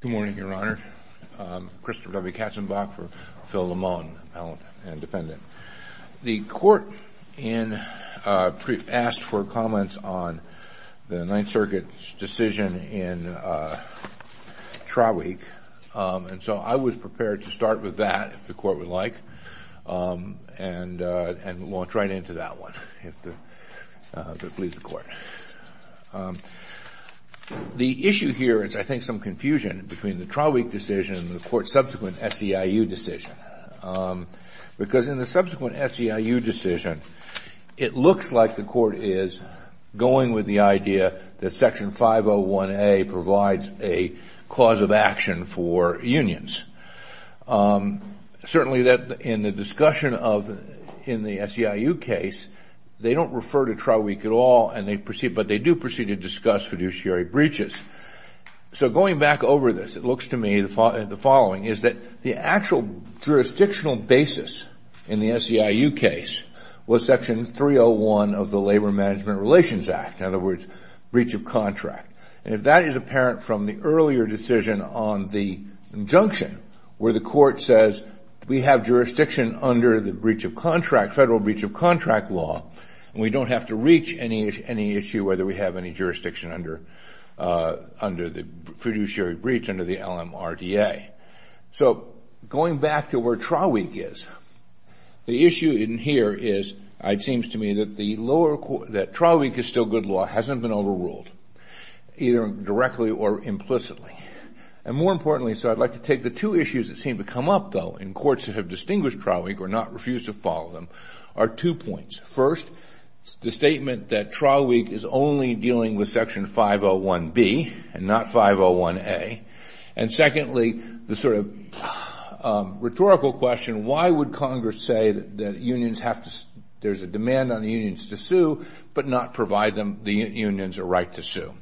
Good morning, Your Honor. Christopher W. Katzenbach for Phil Limon, Appellant and Defendant. The Court asked for comments on the Ninth Circuit's decision in trial week, and so I was prepared to start with that, if the Court would like, and launch right into that one. The issue here is, I think, some confusion between the trial week decision and the Court's subsequent SEIU decision, because in the subsequent SEIU decision, it looks like the Court is going with the idea that Section 501A provides a cause of action for unions. Certainly, in the discussion in the SEIU case, they don't refer to trial week at all, but they do proceed to discuss fiduciary breaches. So going back over this, it looks to me the following, is that the actual jurisdictional basis in the SEIU case was Section 301 of the Labor Management Relations Act, in other words, breach of contract. And if that is apparent from the earlier decision on the injunction, where the Court says, we have jurisdiction under the federal breach of contract law, we don't have to reach any issue whether we have any jurisdiction under the fiduciary breach under the LMRDA. So going back to where trial week is, the issue in here is, it seems to me that trial week is still good law, hasn't been overruled, either directly or implicitly. And more importantly, so I'd like to take the two issues that seem to come up, though, in courts that have distinguished trial week or not refuse to follow them, are two points. First, the statement that trial week is only dealing with Section 501B and not 501A. And secondly, the sort of rhetorical question, why would Congress say that unions have to, there's a demand on the unions to sue, but not provide them the unions a right to sue.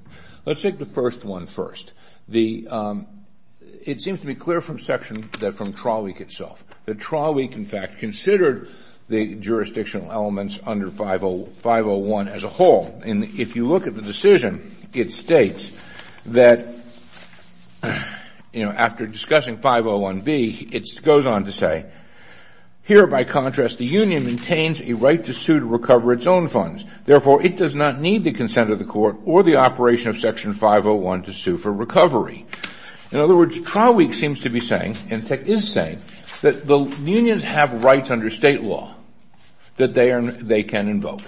Let's take the first one first. It seems to be clear from section, from trial week itself, that trial week, in fact, considered the jurisdictional elements under 501 as a whole. And if you look at the decision, it states that, you know, after discussing 501B, it goes on to say, here, by contrast, the union maintains a right to sue to recover its own funds. Therefore, it does not need the consent of the court or the operation of Section 501 to sue for recovery. In other words, trial week seems to be saying, and in fact is saying, that the unions have rights under State law that they can invoke.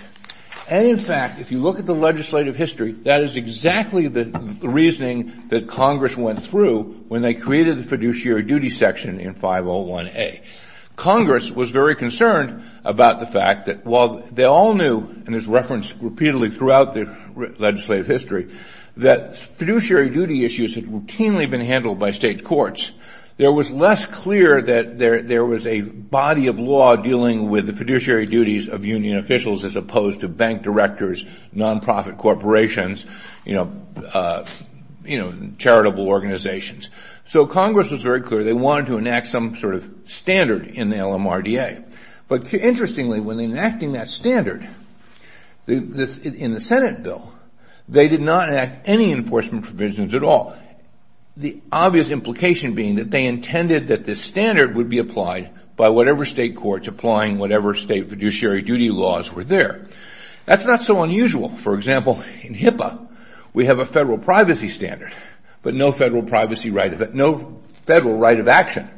And in fact, if you look at the legislative history, that is exactly the reasoning that Congress went through when they created the fiduciary duty section in 501A. Congress was very concerned about the fact that while they all knew, and this was referenced repeatedly throughout the legislative history, that fiduciary duty issues had routinely been handled by State courts, it was less clear that there was a body of law dealing with the fiduciary duties of union officials as opposed to bank directors, non-profit corporations, you know, charitable organizations. So Congress was very clear they wanted to enact some sort of standard in the LMRDA. But interestingly, when enacting that standard in the Senate bill, they did not enact any enforcement provisions at all. The obvious implication being that they intended that this standard would be applied by whatever State courts applying whatever State fiduciary duty laws were there. That's not so unusual. For example, in HIPAA, we have a federal privacy standard, but no federal privacy right, no federal right of access.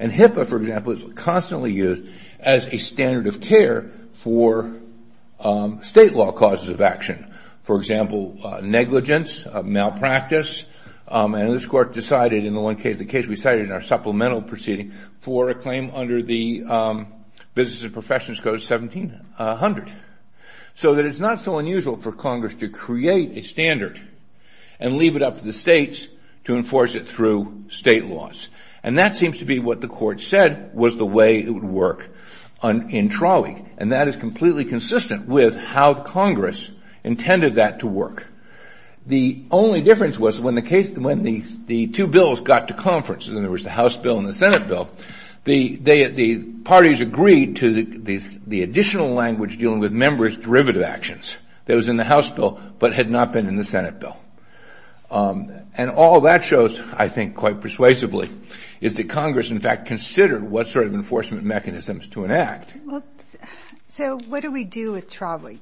In HIPAA, for example, it's constantly used as a standard of care for State law causes of action. For example, negligence, malpractice, and this court decided in the one case, the case we cited in our supplemental proceeding, for a claim under the Business and Professions Code 1700. So that it's not so unusual for Congress to create a standard and leave it up to the States to enforce it through State laws. And that seems to be what the court said was the way it would work in Trawick. And that is completely consistent with how Congress intended that to work. The only difference was when the two bills got to conference, and there was the House bill and the Senate bill, the parties agreed to the additional language dealing with members' derivative actions that was in the House bill but had not been in the Senate bill. And all that shows, I think quite persuasively, is that Congress, in fact, considered what sort of enforcement mechanisms to enact. Well, so what do we do with Trawick?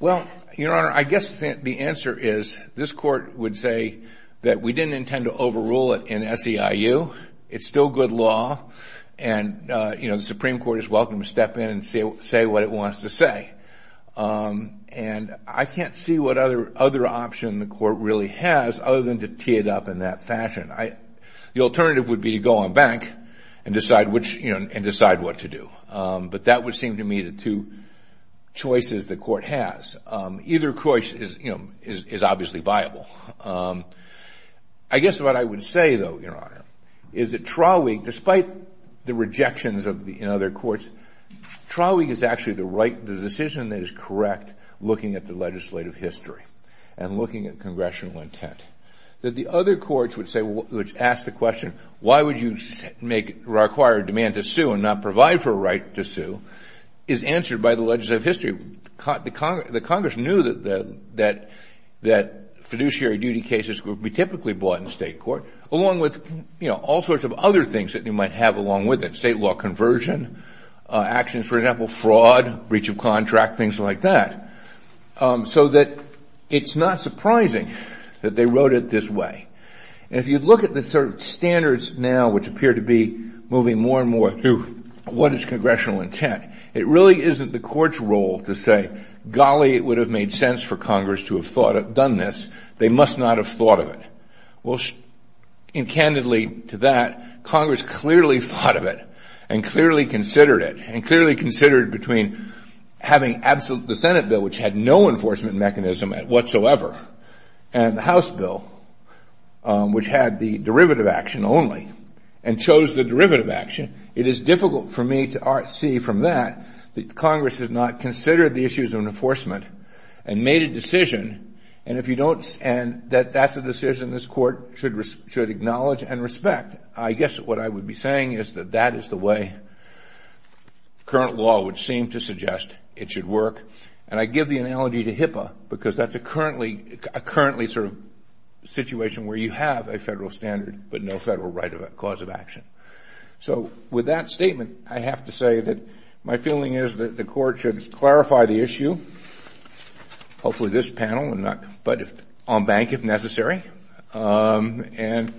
Well, Your Honor, I guess the answer is this court would say that we didn't intend to overrule it in SEIU. It's still good law. And, you know, the Supreme Court is welcome to step in and say what it wants to say. And I can't see what other option the court really has other than to tee it up in that fashion. The alternative would be to go on bank and decide what to do. But that would seem to me the two choices the court has. Either choice is obviously viable. I guess what I would say, though, Your Honor, is that Trawick, despite the rejections in other courts, Trawick is actually the decision that is correct looking at the legislative history and looking at congressional intent. That the other courts would say, would ask the question, why would you require a demand to sue and not provide for a right to sue, is answered by the legislative history. The Congress knew that fiduciary duty cases would be typically brought in state court along with, you know, all sorts of other things that you might have along with it, state law conversion, actions, for example, fraud, breach of contract, things like that. So that it's not surprising that they wrote it this way. And if you look at the standards now, which appear to be moving more and more to what is congressional intent, it really isn't the court's role to say, golly, it would have made sense for Congress to have thought of, done this. They must not have thought of it. Well, candidly to that, Congress clearly thought of it and clearly considered it and clearly considered between having absolute, the Senate bill, which had no enforcement mechanism whatsoever, and the House bill, which had the derivative action only and chose the derivative action. It is difficult for me to see from that that Congress has not considered the issues of enforcement and made a decision. And if you don't, and that that's a decision this court should acknowledge and respect. I guess what I would be saying is that that is the way current law would seem to suggest it should work. And I give the analogy to HIPAA, because that's a currently sort of situation where you have a federal standard, but no federal right of cause of action. So with that statement, I have to say that my feeling is that the court should clarify the issue, hopefully this panel and not, but if on bank, if necessary, and, and,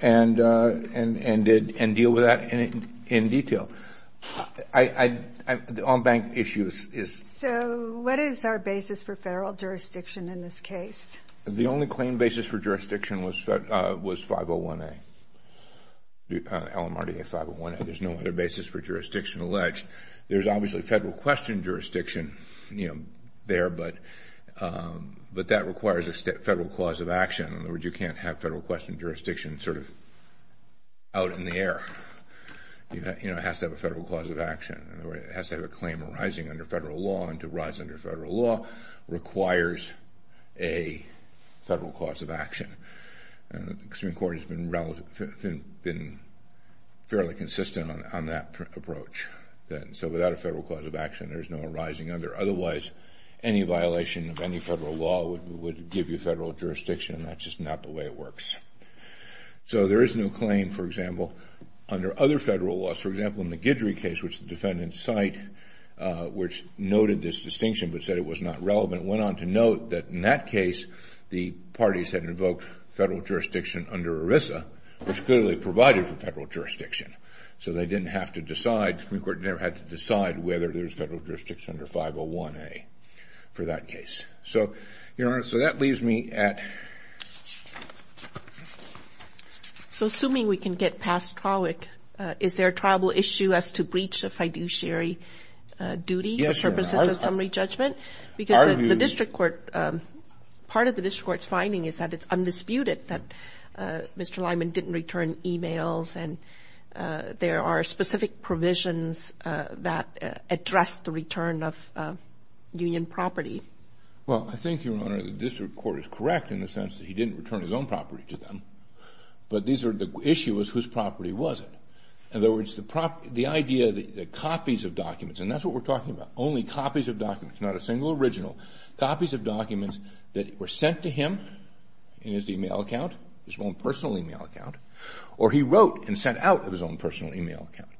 and, and, and deal with that in detail. I, on bank issues is. So what is our basis for federal jurisdiction in this case? The only claim basis for jurisdiction was, was 501A, LMRDA 501A. There's no other basis for jurisdiction alleged. There's obviously federal question jurisdiction, you know, there, but, but that requires a federal clause of action. In other words, you can't have federal question jurisdiction sort of out in the air. You know, it has to have a federal clause of action or it has to have a claim arising under federal law and to rise under federal law requires a federal clause of action. The Supreme Court has been relative, been fairly consistent on that approach then. So without a federal clause of action, there's no arising under, otherwise any violation of any federal law would, would give you federal jurisdiction and that's just not the way it works. So there is no claim, for example, under other federal laws. For example, in the Guidry case, which the defendants cite, which noted this distinction, but said it was not relevant, went on to note that in that case, the parties had invoked federal jurisdiction under ERISA, which clearly provided for federal jurisdiction. So they didn't have to decide, the Supreme Court never had to decide whether there's federal jurisdiction under 501A for that case. So, Your Honor, so that leaves me at... So assuming we can get past Trawick, is there a tribal issue as to breach of fiduciary duty for purposes of summary judgment? Because the district court, part of the district court's finding is that it's undisputed that Mr. Lyman didn't return e-mails and there are specific provisions that address the return of union property. Well, I think, Your Honor, the district court is correct in the sense that he didn't return his own property to them, but these are the issues whose property was it. In other words, the idea that copies of documents, and that's what we're talking about, only copies of documents, not a single original, copies of documents that were sent to him in his e-mail account, his own personal e-mail account, or he wrote and sent out of his own personal e-mail account.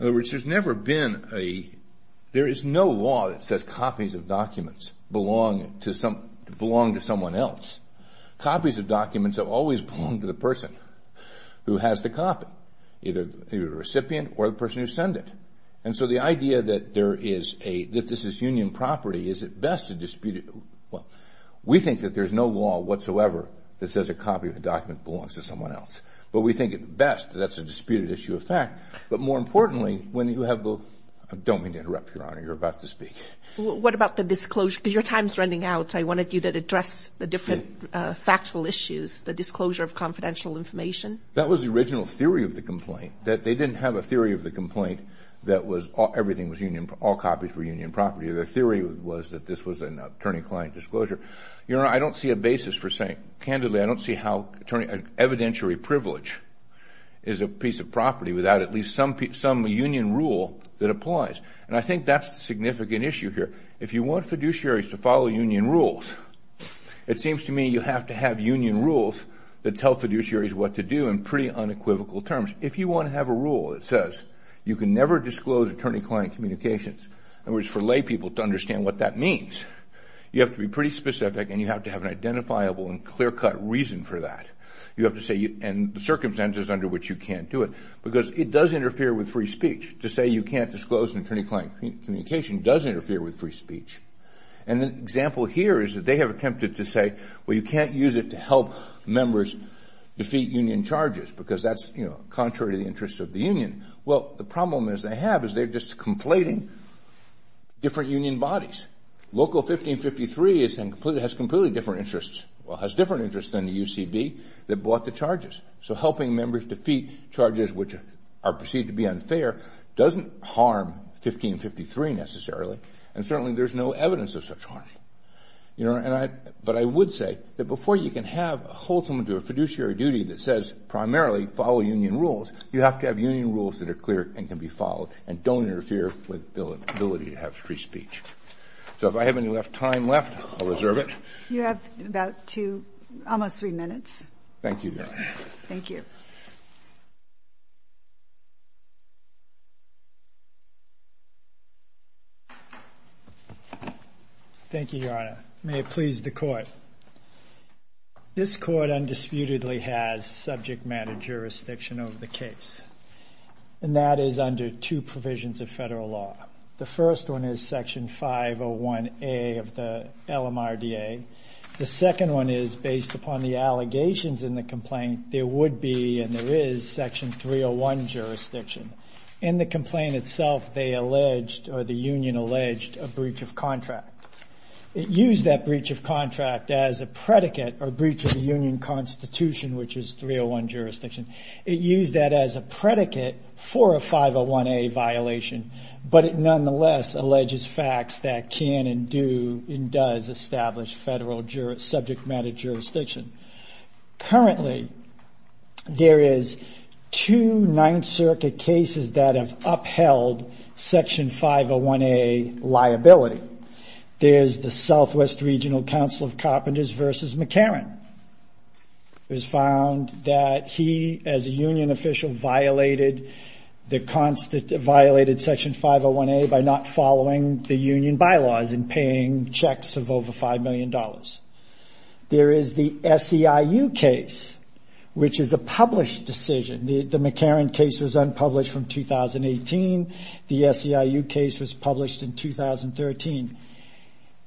In other words, there's never been a... There is no law that says copies of documents belong to someone else. Copies of documents have always belonged to the person who has the copy, either the recipient or the person who sent it. And there is a... If this is union property, is it best to dispute it? Well, we think that there's no law whatsoever that says a copy of a document belongs to someone else. But we think at best that's a disputed issue of fact. But more importantly, when you have the... I don't mean to interrupt, Your Honor. You're about to speak. What about the disclosure? Because your time's running out. I wanted you to address the different factual issues, the disclosure of confidential information. That was the original theory of the complaint, that they didn't have a theory of the complaint that everything was union... All copies were union property. The theory was that this was an attorney-client disclosure. Your Honor, I don't see a basis for saying... Candidly, I don't see how an evidentiary privilege is a piece of property without at least some union rule that applies. And I think that's the significant issue here. If you want fiduciaries to follow union rules, it seems to me you have to have union rules that tell fiduciaries what to do in pretty unequivocal terms. If you want to have a rule that says you can never disclose attorney-client communications, in other words, for laypeople to understand what that means, you have to be pretty specific and you have to have an identifiable and clear-cut reason for that. You have to say... And the circumstances under which you can't do it. Because it does interfere with free speech. To say you can't disclose an attorney-client communication does interfere with free speech. And the example here is that they have attempted to say, well, you can't use it to help members defeat union charges because that's contrary to the interests of the union. Well, the problem is they have is they're just conflating different union bodies. Local 1553 has completely different interests. Well, it has different interests than the UCB that bought the charges. So helping members defeat charges which are perceived to be unfair doesn't harm 1553 necessarily. And certainly there's no evidence of such But I would say that before you can have, hold someone to a fiduciary duty that says primarily follow union rules, you have to have union rules that are clear and can be followed and don't interfere with the ability to have free speech. So if I have any time left, I'll reserve it. You have about two, almost three minutes. Thank you, Your Honor. Thank you. Thank you, Your Honor. May it please the court. This court undisputedly has subject matter jurisdiction over the case. And that is under two provisions of federal law. The first one is section 501A of the LMRDA. The second one is based upon the allegations in the complaint, there would be and there is section 301 jurisdiction. In the complaint itself, they alleged or the union alleged a breach of contract. It used that breach of contract as a predicate or breach of the union constitution, which is 301 jurisdiction. It used that as a predicate for a 501A violation, but it nonetheless alleges facts that can and do and does establish federal subject matter jurisdiction. Currently, there is two Ninth Circuit cases that have upheld section 501A liability. There's the Southwest Regional Council of Carpenters versus McCarran. It was found that he, as a union official, violated section 501A by not following the union bylaws and paying checks of over $5 million. There is the SEIU case, which is a published decision. The McCarran case was unpublished from 2018. The SEIU case was published in 2013.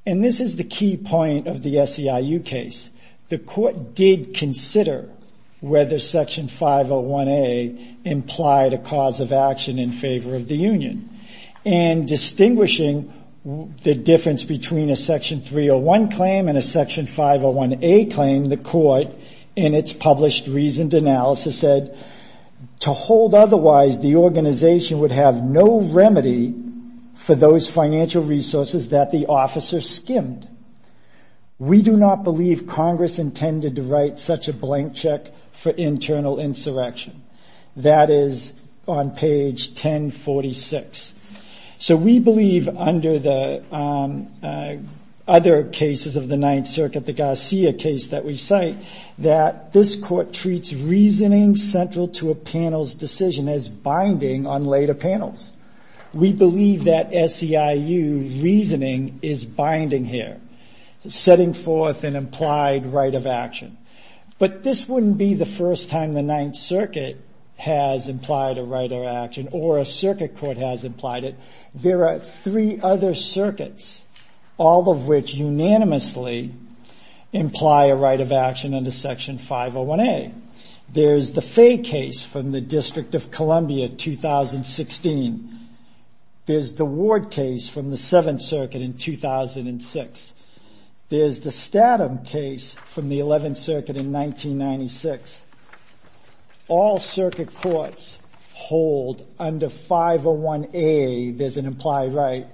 And this is the key point of the SEIU case. The court did consider whether section 501A implied a cause of action in favor of the union. And distinguishing the difference between a section 301 claim and a section 501A claim, the court in its published reasoned analysis said, to hold otherwise, the organization would have no remedy for those financial resources that the officer skimmed. We do not believe Congress intended to write such a blank check for internal insurrection. That is on page 1046. So we believe under the other cases of the Ninth Circuit, the Garcia case that we cite, that this court treats reasoning central to a panel's decision as binding on later panels. We believe that SEIU reasoning is binding here, setting forth an implied right of action. But this wouldn't be the first time the Ninth Circuit has implied a right of action, or a circuit court has implied it. There are three other circuits, all of which unanimously imply a right of action under section 501A. There's the Fay case from the District of There's the Ward case from the Seventh Circuit in 2006. There's the Statham case from the Eleventh Circuit in 1996. All circuit courts hold under 501A, there's an implied right.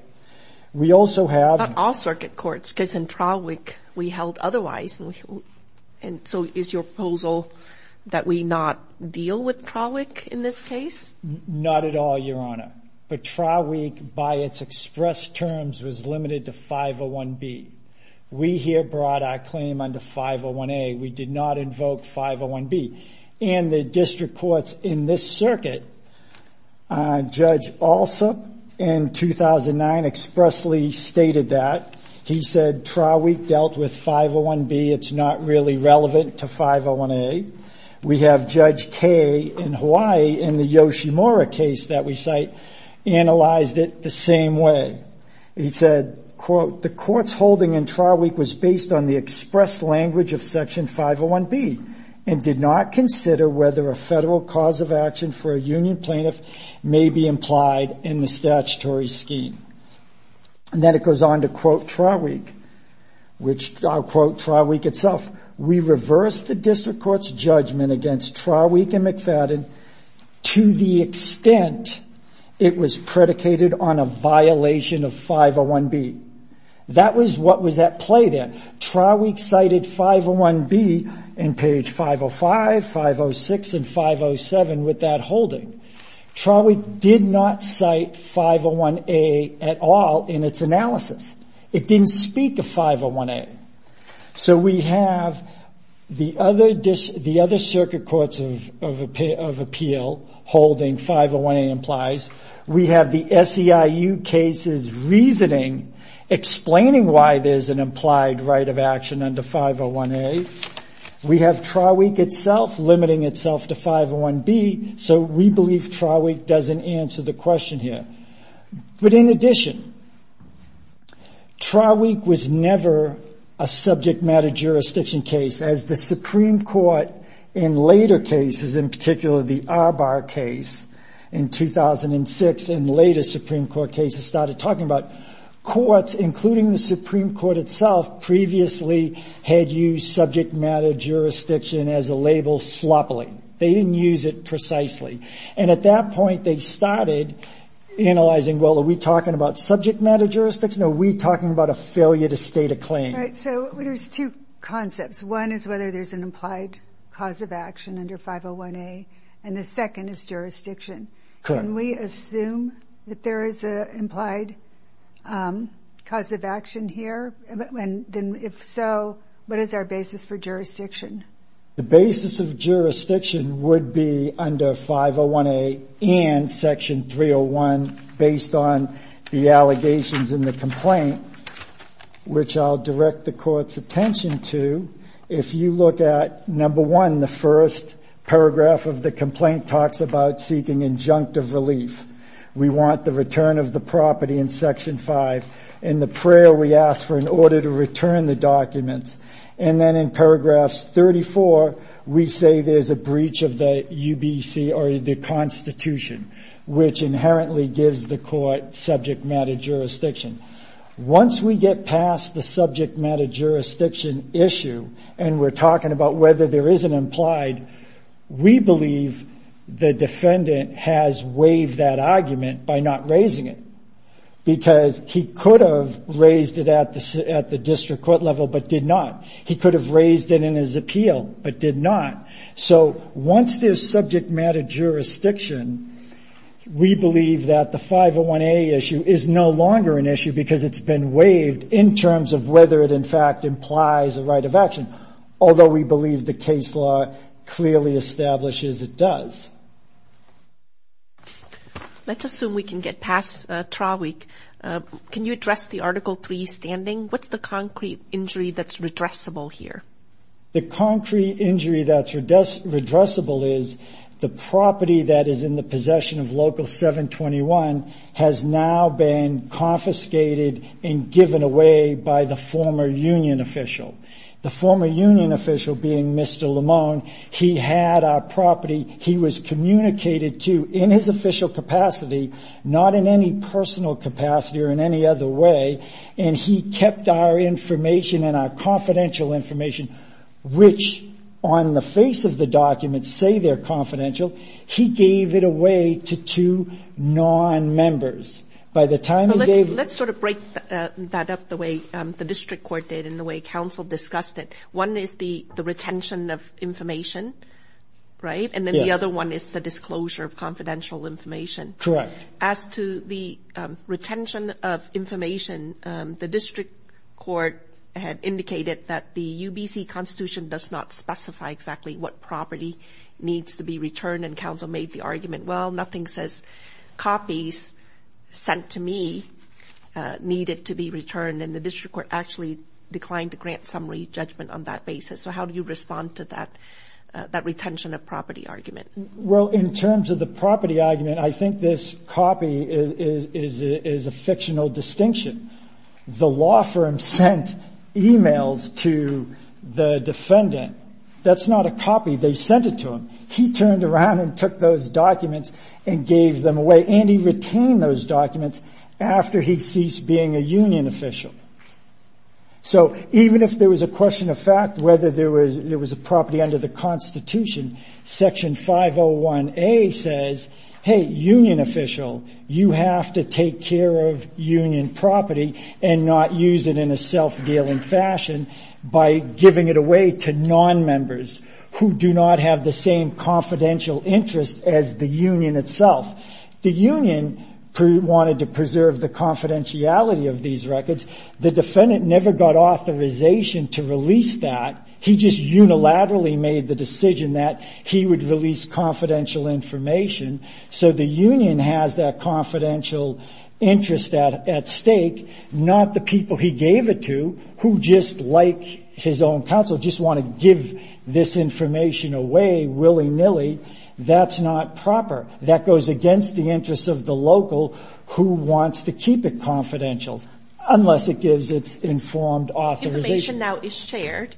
We also have- But not all circuit courts, because in Trawick, we held otherwise. And so is your proposal that we not deal with Trawick in this case? Not at all, Your Honor. But Trawick, by its express terms, was limited to 501B. We here brought our claim under 501A. We did not invoke 501B. And the district courts in this circuit, Judge Alsop, in 2009, expressly stated that. He said, Trawick dealt with 501B. It's not really relevant to 501A. We have Judge Kaye in Hawaii in the Yoshimura case that we cite analyzed it the same way. He said, quote, the court's holding in Trawick was based on the express language of section 501B and did not consider whether a federal cause of action for a union plaintiff may be implied in the statutory scheme. And then it goes on to quote Trawick, which I'll quote Trawick itself. We reversed the district court's judgment against Trawick and McFadden to the extent it was predicated on a violation of 501B. That was what was at play there. Trawick cited 501B in page 505, 506, and 507 with that holding. Trawick did not cite 501A at all in its analysis. It didn't speak of 501A. So we have the other circuit courts of appeal holding 501A implies. We have the SEIU cases reasoning, explaining why there's an implied right of action under 501A. We have Trawick itself limiting itself to 501B. So we believe Trawick doesn't answer the question here. But in addition, Trawick was never a subject matter jurisdiction case as the Supreme Court in later cases, in particular the Arbar case in 2006 and later Supreme Court cases started talking about courts, including the Supreme Court itself, previously had used subject matter jurisdiction as a label sloppily. They didn't use it precisely. And at that point, they started analyzing, well, are we talking about subject matter jurisdiction or are we talking about a failure to state a claim? Right. So there's two concepts. One is whether there's an implied cause of action under 501A. And the second is jurisdiction. Correct. Can we assume that there is an implied cause of action here? And if so, what is our basis for jurisdiction? The basis of jurisdiction would be under 501A and Section 301 based on the allegations in the complaint, which I'll direct the court's attention to. If you look at number one, the first paragraph of the complaint talks about seeking injunctive relief. We want the return of the property in Section 5. In the prayer, we ask for an order to return the documents. And then in paragraphs 34, we say there's a breach of the UBC or the Constitution, which inherently gives the court subject matter jurisdiction. Once we get past the subject matter jurisdiction issue, and we're talking about whether there is an implied, we believe the defendant has waived that argument by not raising it. Because he could have raised it at the district court level, but did not. He could have raised it in his appeal, but did not. So once there's subject matter jurisdiction, we believe that the 501A issue is no longer an issue because it's been waived in terms of whether it in fact implies a right of action, although we believe the case law clearly establishes it does. Let's assume we can get past trial week. Can you address the Article 3 standing? What's the concrete injury that's redressable here? The concrete injury that's redressable is the property that is in the possession of Local 721 has now been confiscated and given away by the former union official. The former communicated to, in his official capacity, not in any personal capacity or in any other way, and he kept our information and our confidential information, which on the face of the document say they're confidential. He gave it away to two non-members. By the time he gave it Let's sort of break that up the way the district court did and the way council discussed it. One is the retention of information, right? And then the other one is the disclosure of confidential information. As to the retention of information, the district court had indicated that the UBC constitution does not specify exactly what property needs to be returned and council made the argument, well, nothing says copies sent to me needed to be returned and the district court actually declined to grant summary judgment on that basis. So how do you respond to that retention of property argument? Well, in terms of the property argument, I think this copy is a fictional distinction. The law firm sent emails to the defendant. That's not a copy. They sent it to him. He turned around and took those documents and gave them away and he retained those documents after he ceased being a union official. So even if there was a question of fact, whether there was a property under the constitution, section 501A says, hey, union official, you have to take care of union property and not use it in a self-dealing fashion by giving it away to non-members who do not have the same confidential interest as the union itself. The union wanted to preserve the confidentiality of these records. The defendant never got authorization to release that. He just unilaterally made the decision that he would release confidential information. So the union has that confidential interest at stake, not the people he gave it to who just like his own counsel, just want to give this information away willy-nilly. That's not proper. That goes against the interests of the local who wants to keep it confidential unless it gives its informed authorization. Information now is shared.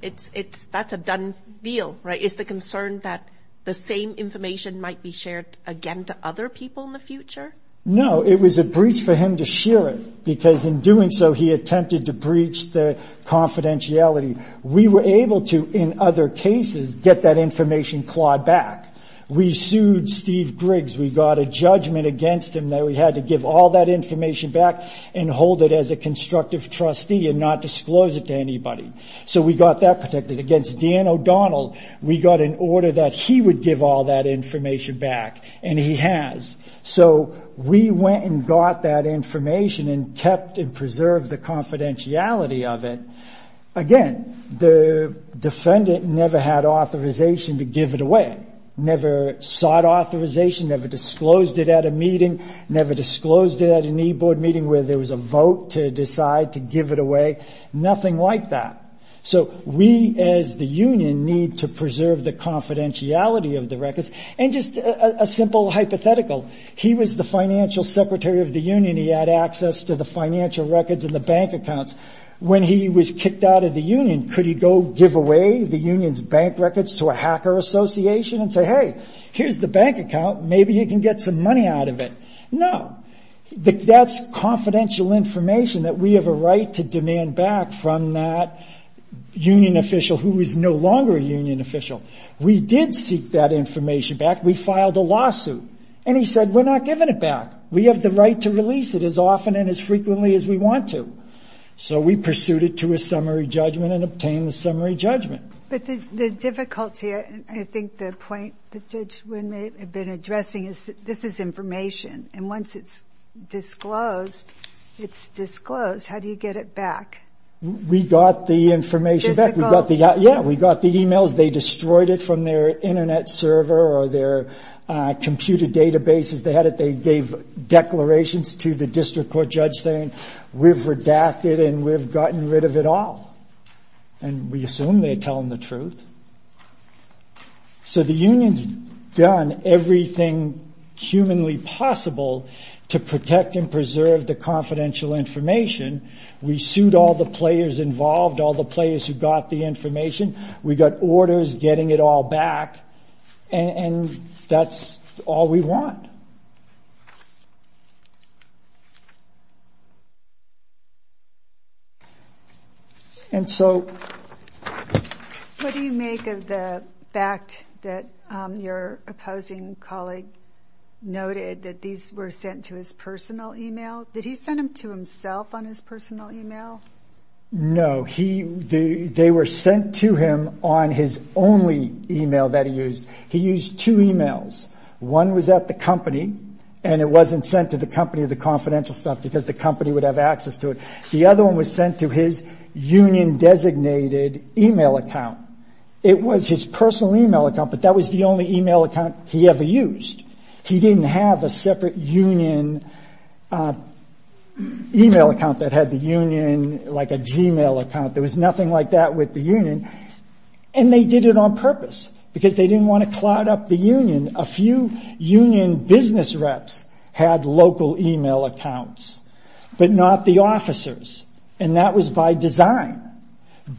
That's a done deal, right? Is the concern that the same information might be shared again to other people in the future? No. It was a breach for him to share it because in doing so, he attempted to breach the confidentiality. We were able to, in other cases, get that information clawed back. We sued Steve Griggs. We got a judgment against him that we had to give all that information back and hold it as a constructive trustee and not disclose it to anybody. So we got that protected. Against Dan O'Donnell, we got an order that he would give all that information back and he has. So we went and got that information and kept and preserved the confidentiality of it. Again, the defendant never had authorization to give it away, never sought authorization, never disclosed it at a meeting, never disclosed it at an e-board meeting where there was a vote to decide to give it away, nothing like that. So we as the union need to preserve the confidentiality of the records. And just a simple hypothetical. He was the financial secretary of the union. He had access to the financial records and the bank accounts. When he was kicked out of the union, could he go give away the union's bank records to a hacker association and say, hey, here's the bank account, maybe you can get some money out of it? No. That's confidential information that we have a right to demand back from that union official who is no longer a union official. We did seek that information back. We filed a lawsuit. And he said, we're not giving it back as frequently as we want to. So we pursued it to a summary judgment and obtained the summary judgment. But the difficulty, I think the point that Judge Wynn may have been addressing, is that this is information. And once it's disclosed, it's disclosed. How do you get it back? We got the information back. Difficult. Yeah. We got the e-mails. They destroyed it from their internet server or their computer databases. They gave declarations to the district court judge saying, we've redacted and we've gotten rid of it all. And we assume they're telling the truth. So the union's done everything humanly possible to protect and preserve the confidential information. We sued all the players involved, all the players who got the information. We got orders getting it all back. And that's all we want. And so... What do you make of the fact that your opposing colleague noted that these were sent to his personal e-mail? Did he send them to himself on his personal e-mail? No. They were sent to him on his only e-mail that he used. He used two e-mails. One was at the company and it wasn't sent to the company, the confidential stuff, because the company would have access to it. The other one was sent to his union-designated e-mail account. It was his personal e-mail account, but that was the only e-mail account he ever used. He didn't have a separate union e-mail account that had the union, like a g-mail account. There was nothing like that with the union. And they did it on purpose, because they didn't want to cloud up the union. A few union business reps had local e-mail accounts, but not the officers. And that was by design.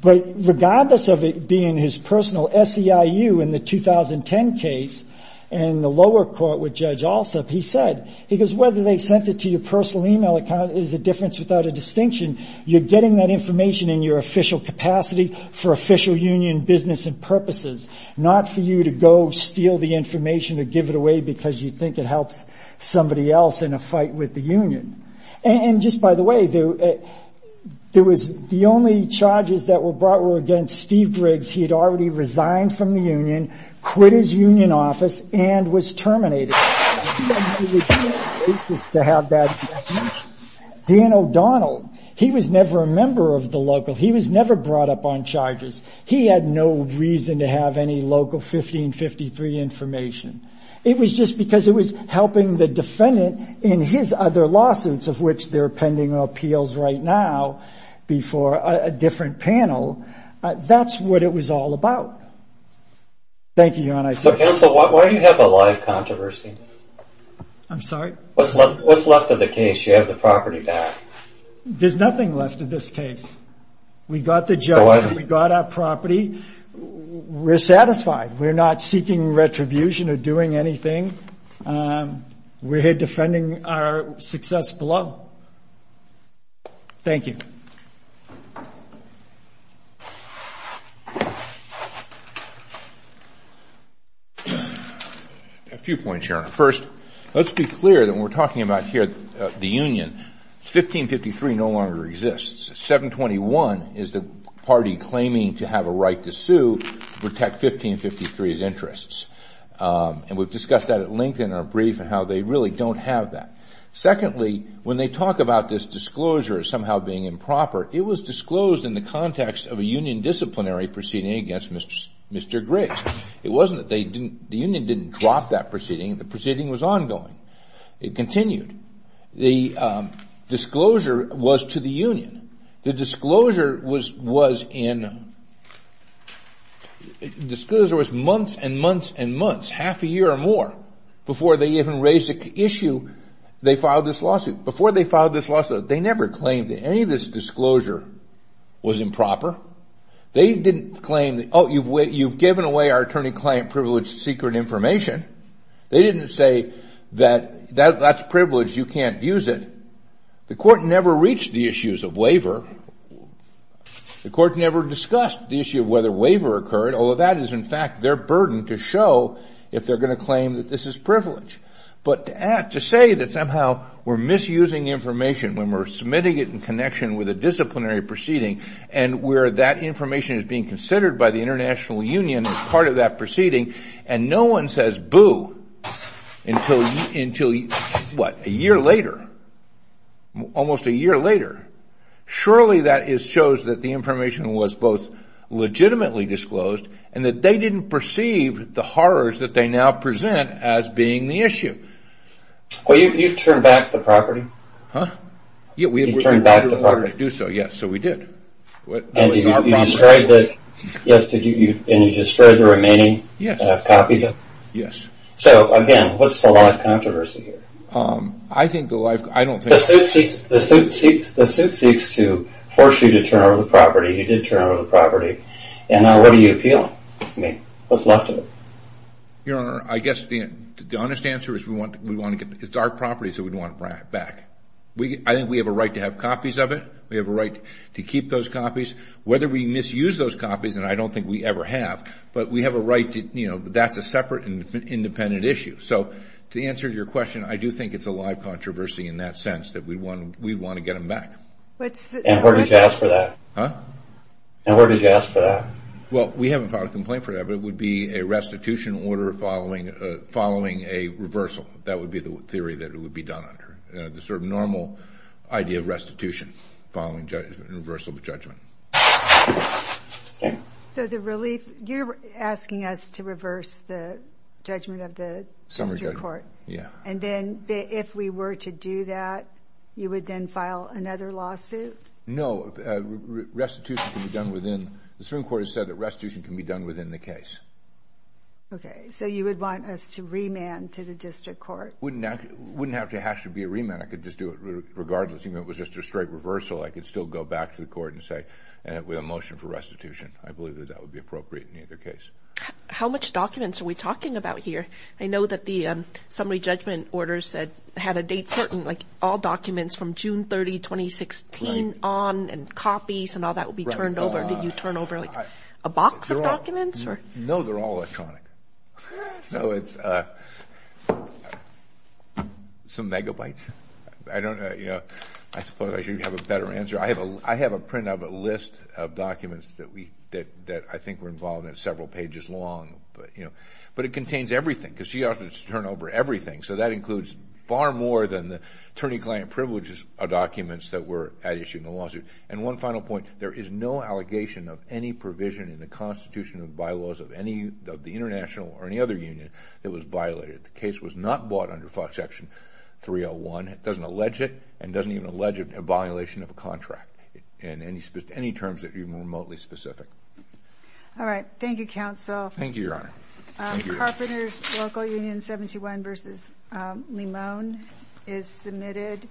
But regardless of it being his personal SEIU in the 2010 case in the lower court with Judge Alsup, he said, he goes, whether they sent it to your personal e-mail account is a difference without a distinction. You're getting that information in your official capacity for official union business and purposes, not for you to go steal the information or give it away because you think it helps somebody else in a fight with the union. And just by the way, the only charges that were brought against Steve Briggs, he had already resigned from the union, quit his union office, and was terminated. He had to return to Texas to have that information. Dan O'Donnell, he was never a member of the local. He was never brought up on charges. He had no reason to have any local 1553 information. It was just because it was helping the defendant in his other lawsuits, of which they're pending appeals right now before a different panel. That's what it was all about. Thank you, Your Honor. So counsel, why do you have a live controversy? I'm sorry? What's left of the case? You have the property back. There's nothing left of this case. We got the judge. We got our property. We're satisfied. We're not seeking retribution or doing anything. We're here defending our success below. Thank you. A few points, Your Honor. First, let's be clear that we're talking about here the union. 1553 no longer exists. 721 is the party claiming to have a right to sue to protect 1553's interests. And we've discussed that at length in our brief and how they really don't have that. Secondly, when they talk about this disclosure as somehow being improper, it was disclosed in the context of a union disciplinary proceeding against Mr. Griggs. It wasn't that they didn't, the union didn't drop that proceeding. The proceeding was ongoing. It continued. The disclosure was to the union. The disclosure was months and months and months, half a year or more before they even raised the issue, they filed this lawsuit. Before they filed this lawsuit, they never claimed that any of this disclosure was improper. They didn't claim, oh, you've given away our attorney-client privilege secret information. They didn't say that that's privilege, you can't use it. The court never reached the issues of waiver. The court never discussed the issue of whether waiver occurred, although that is in fact their burden to show if they're going to claim that this is privilege. But to say that somehow we're misusing information when we're submitting it in connection with a disciplinary proceeding and where that information is being considered by international union as part of that proceeding and no one says boo until a year later, almost a year later, surely that shows that the information was both legitimately disclosed and that they didn't perceive the horrors that they now present as being the issue. Well, you've turned back the property. Yeah, we turned back the property to do so. Yes, so we did. And you destroyed the remaining copies of it? Yes. So again, what's the law of controversy here? I think the law of... The suit seeks to force you to turn over the property. You did turn over the property. And now what are you appealing? What's left of it? Your Honor, I guess the honest answer is it's our property, so we don't want to bring it back. I think we have a right to have copies of it. We have a right to keep those copies. Whether we misuse those copies, and I don't think we ever have, but we have a right to... That's a separate and independent issue. So to answer your question, I do think it's a live controversy in that sense that we'd want to get them back. And where did you ask for that? Well, we haven't filed a complaint for that, but it would be a restitution order following a reversal. That would be the theory that it would be done under, the sort of normal idea of restitution. Following a reversal of the judgment. So the relief... You're asking us to reverse the judgment of the district court? Yeah. And then if we were to do that, you would then file another lawsuit? No. Restitution can be done within... The Supreme Court has said that restitution can be done within the case. Okay. So you would want us to remand to the district court? Wouldn't have to have to be a remand. I could just do it regardless, even if it was just a straight reversal. I could still go back to the court and say, and with a motion for restitution, I believe that that would be appropriate in either case. How much documents are we talking about here? I know that the summary judgment order said, had a date certain, like all documents from June 30, 2016 on, and copies and all that will be turned over. Did you turn over like a box of documents or? No, they're all electronic. So it's some megabytes. I don't know. I suppose I should have a better answer. I have a print of a list of documents that I think were involved in several pages long, but it contains everything because she offered to turn over everything. So that includes far more than the attorney-client privileges of documents that were at issue in the lawsuit. And one final point, there is no allegation of any provision in the constitution of bylaws of any of the international or any other union that was violated. The case was not bought under section 301. It doesn't allege it and doesn't even allege a violation of a contract in any terms that are even remotely specific. All right. Thank you, counsel. Thank you, your honor. Carpenters Local Union 71 versus Limone is submitted.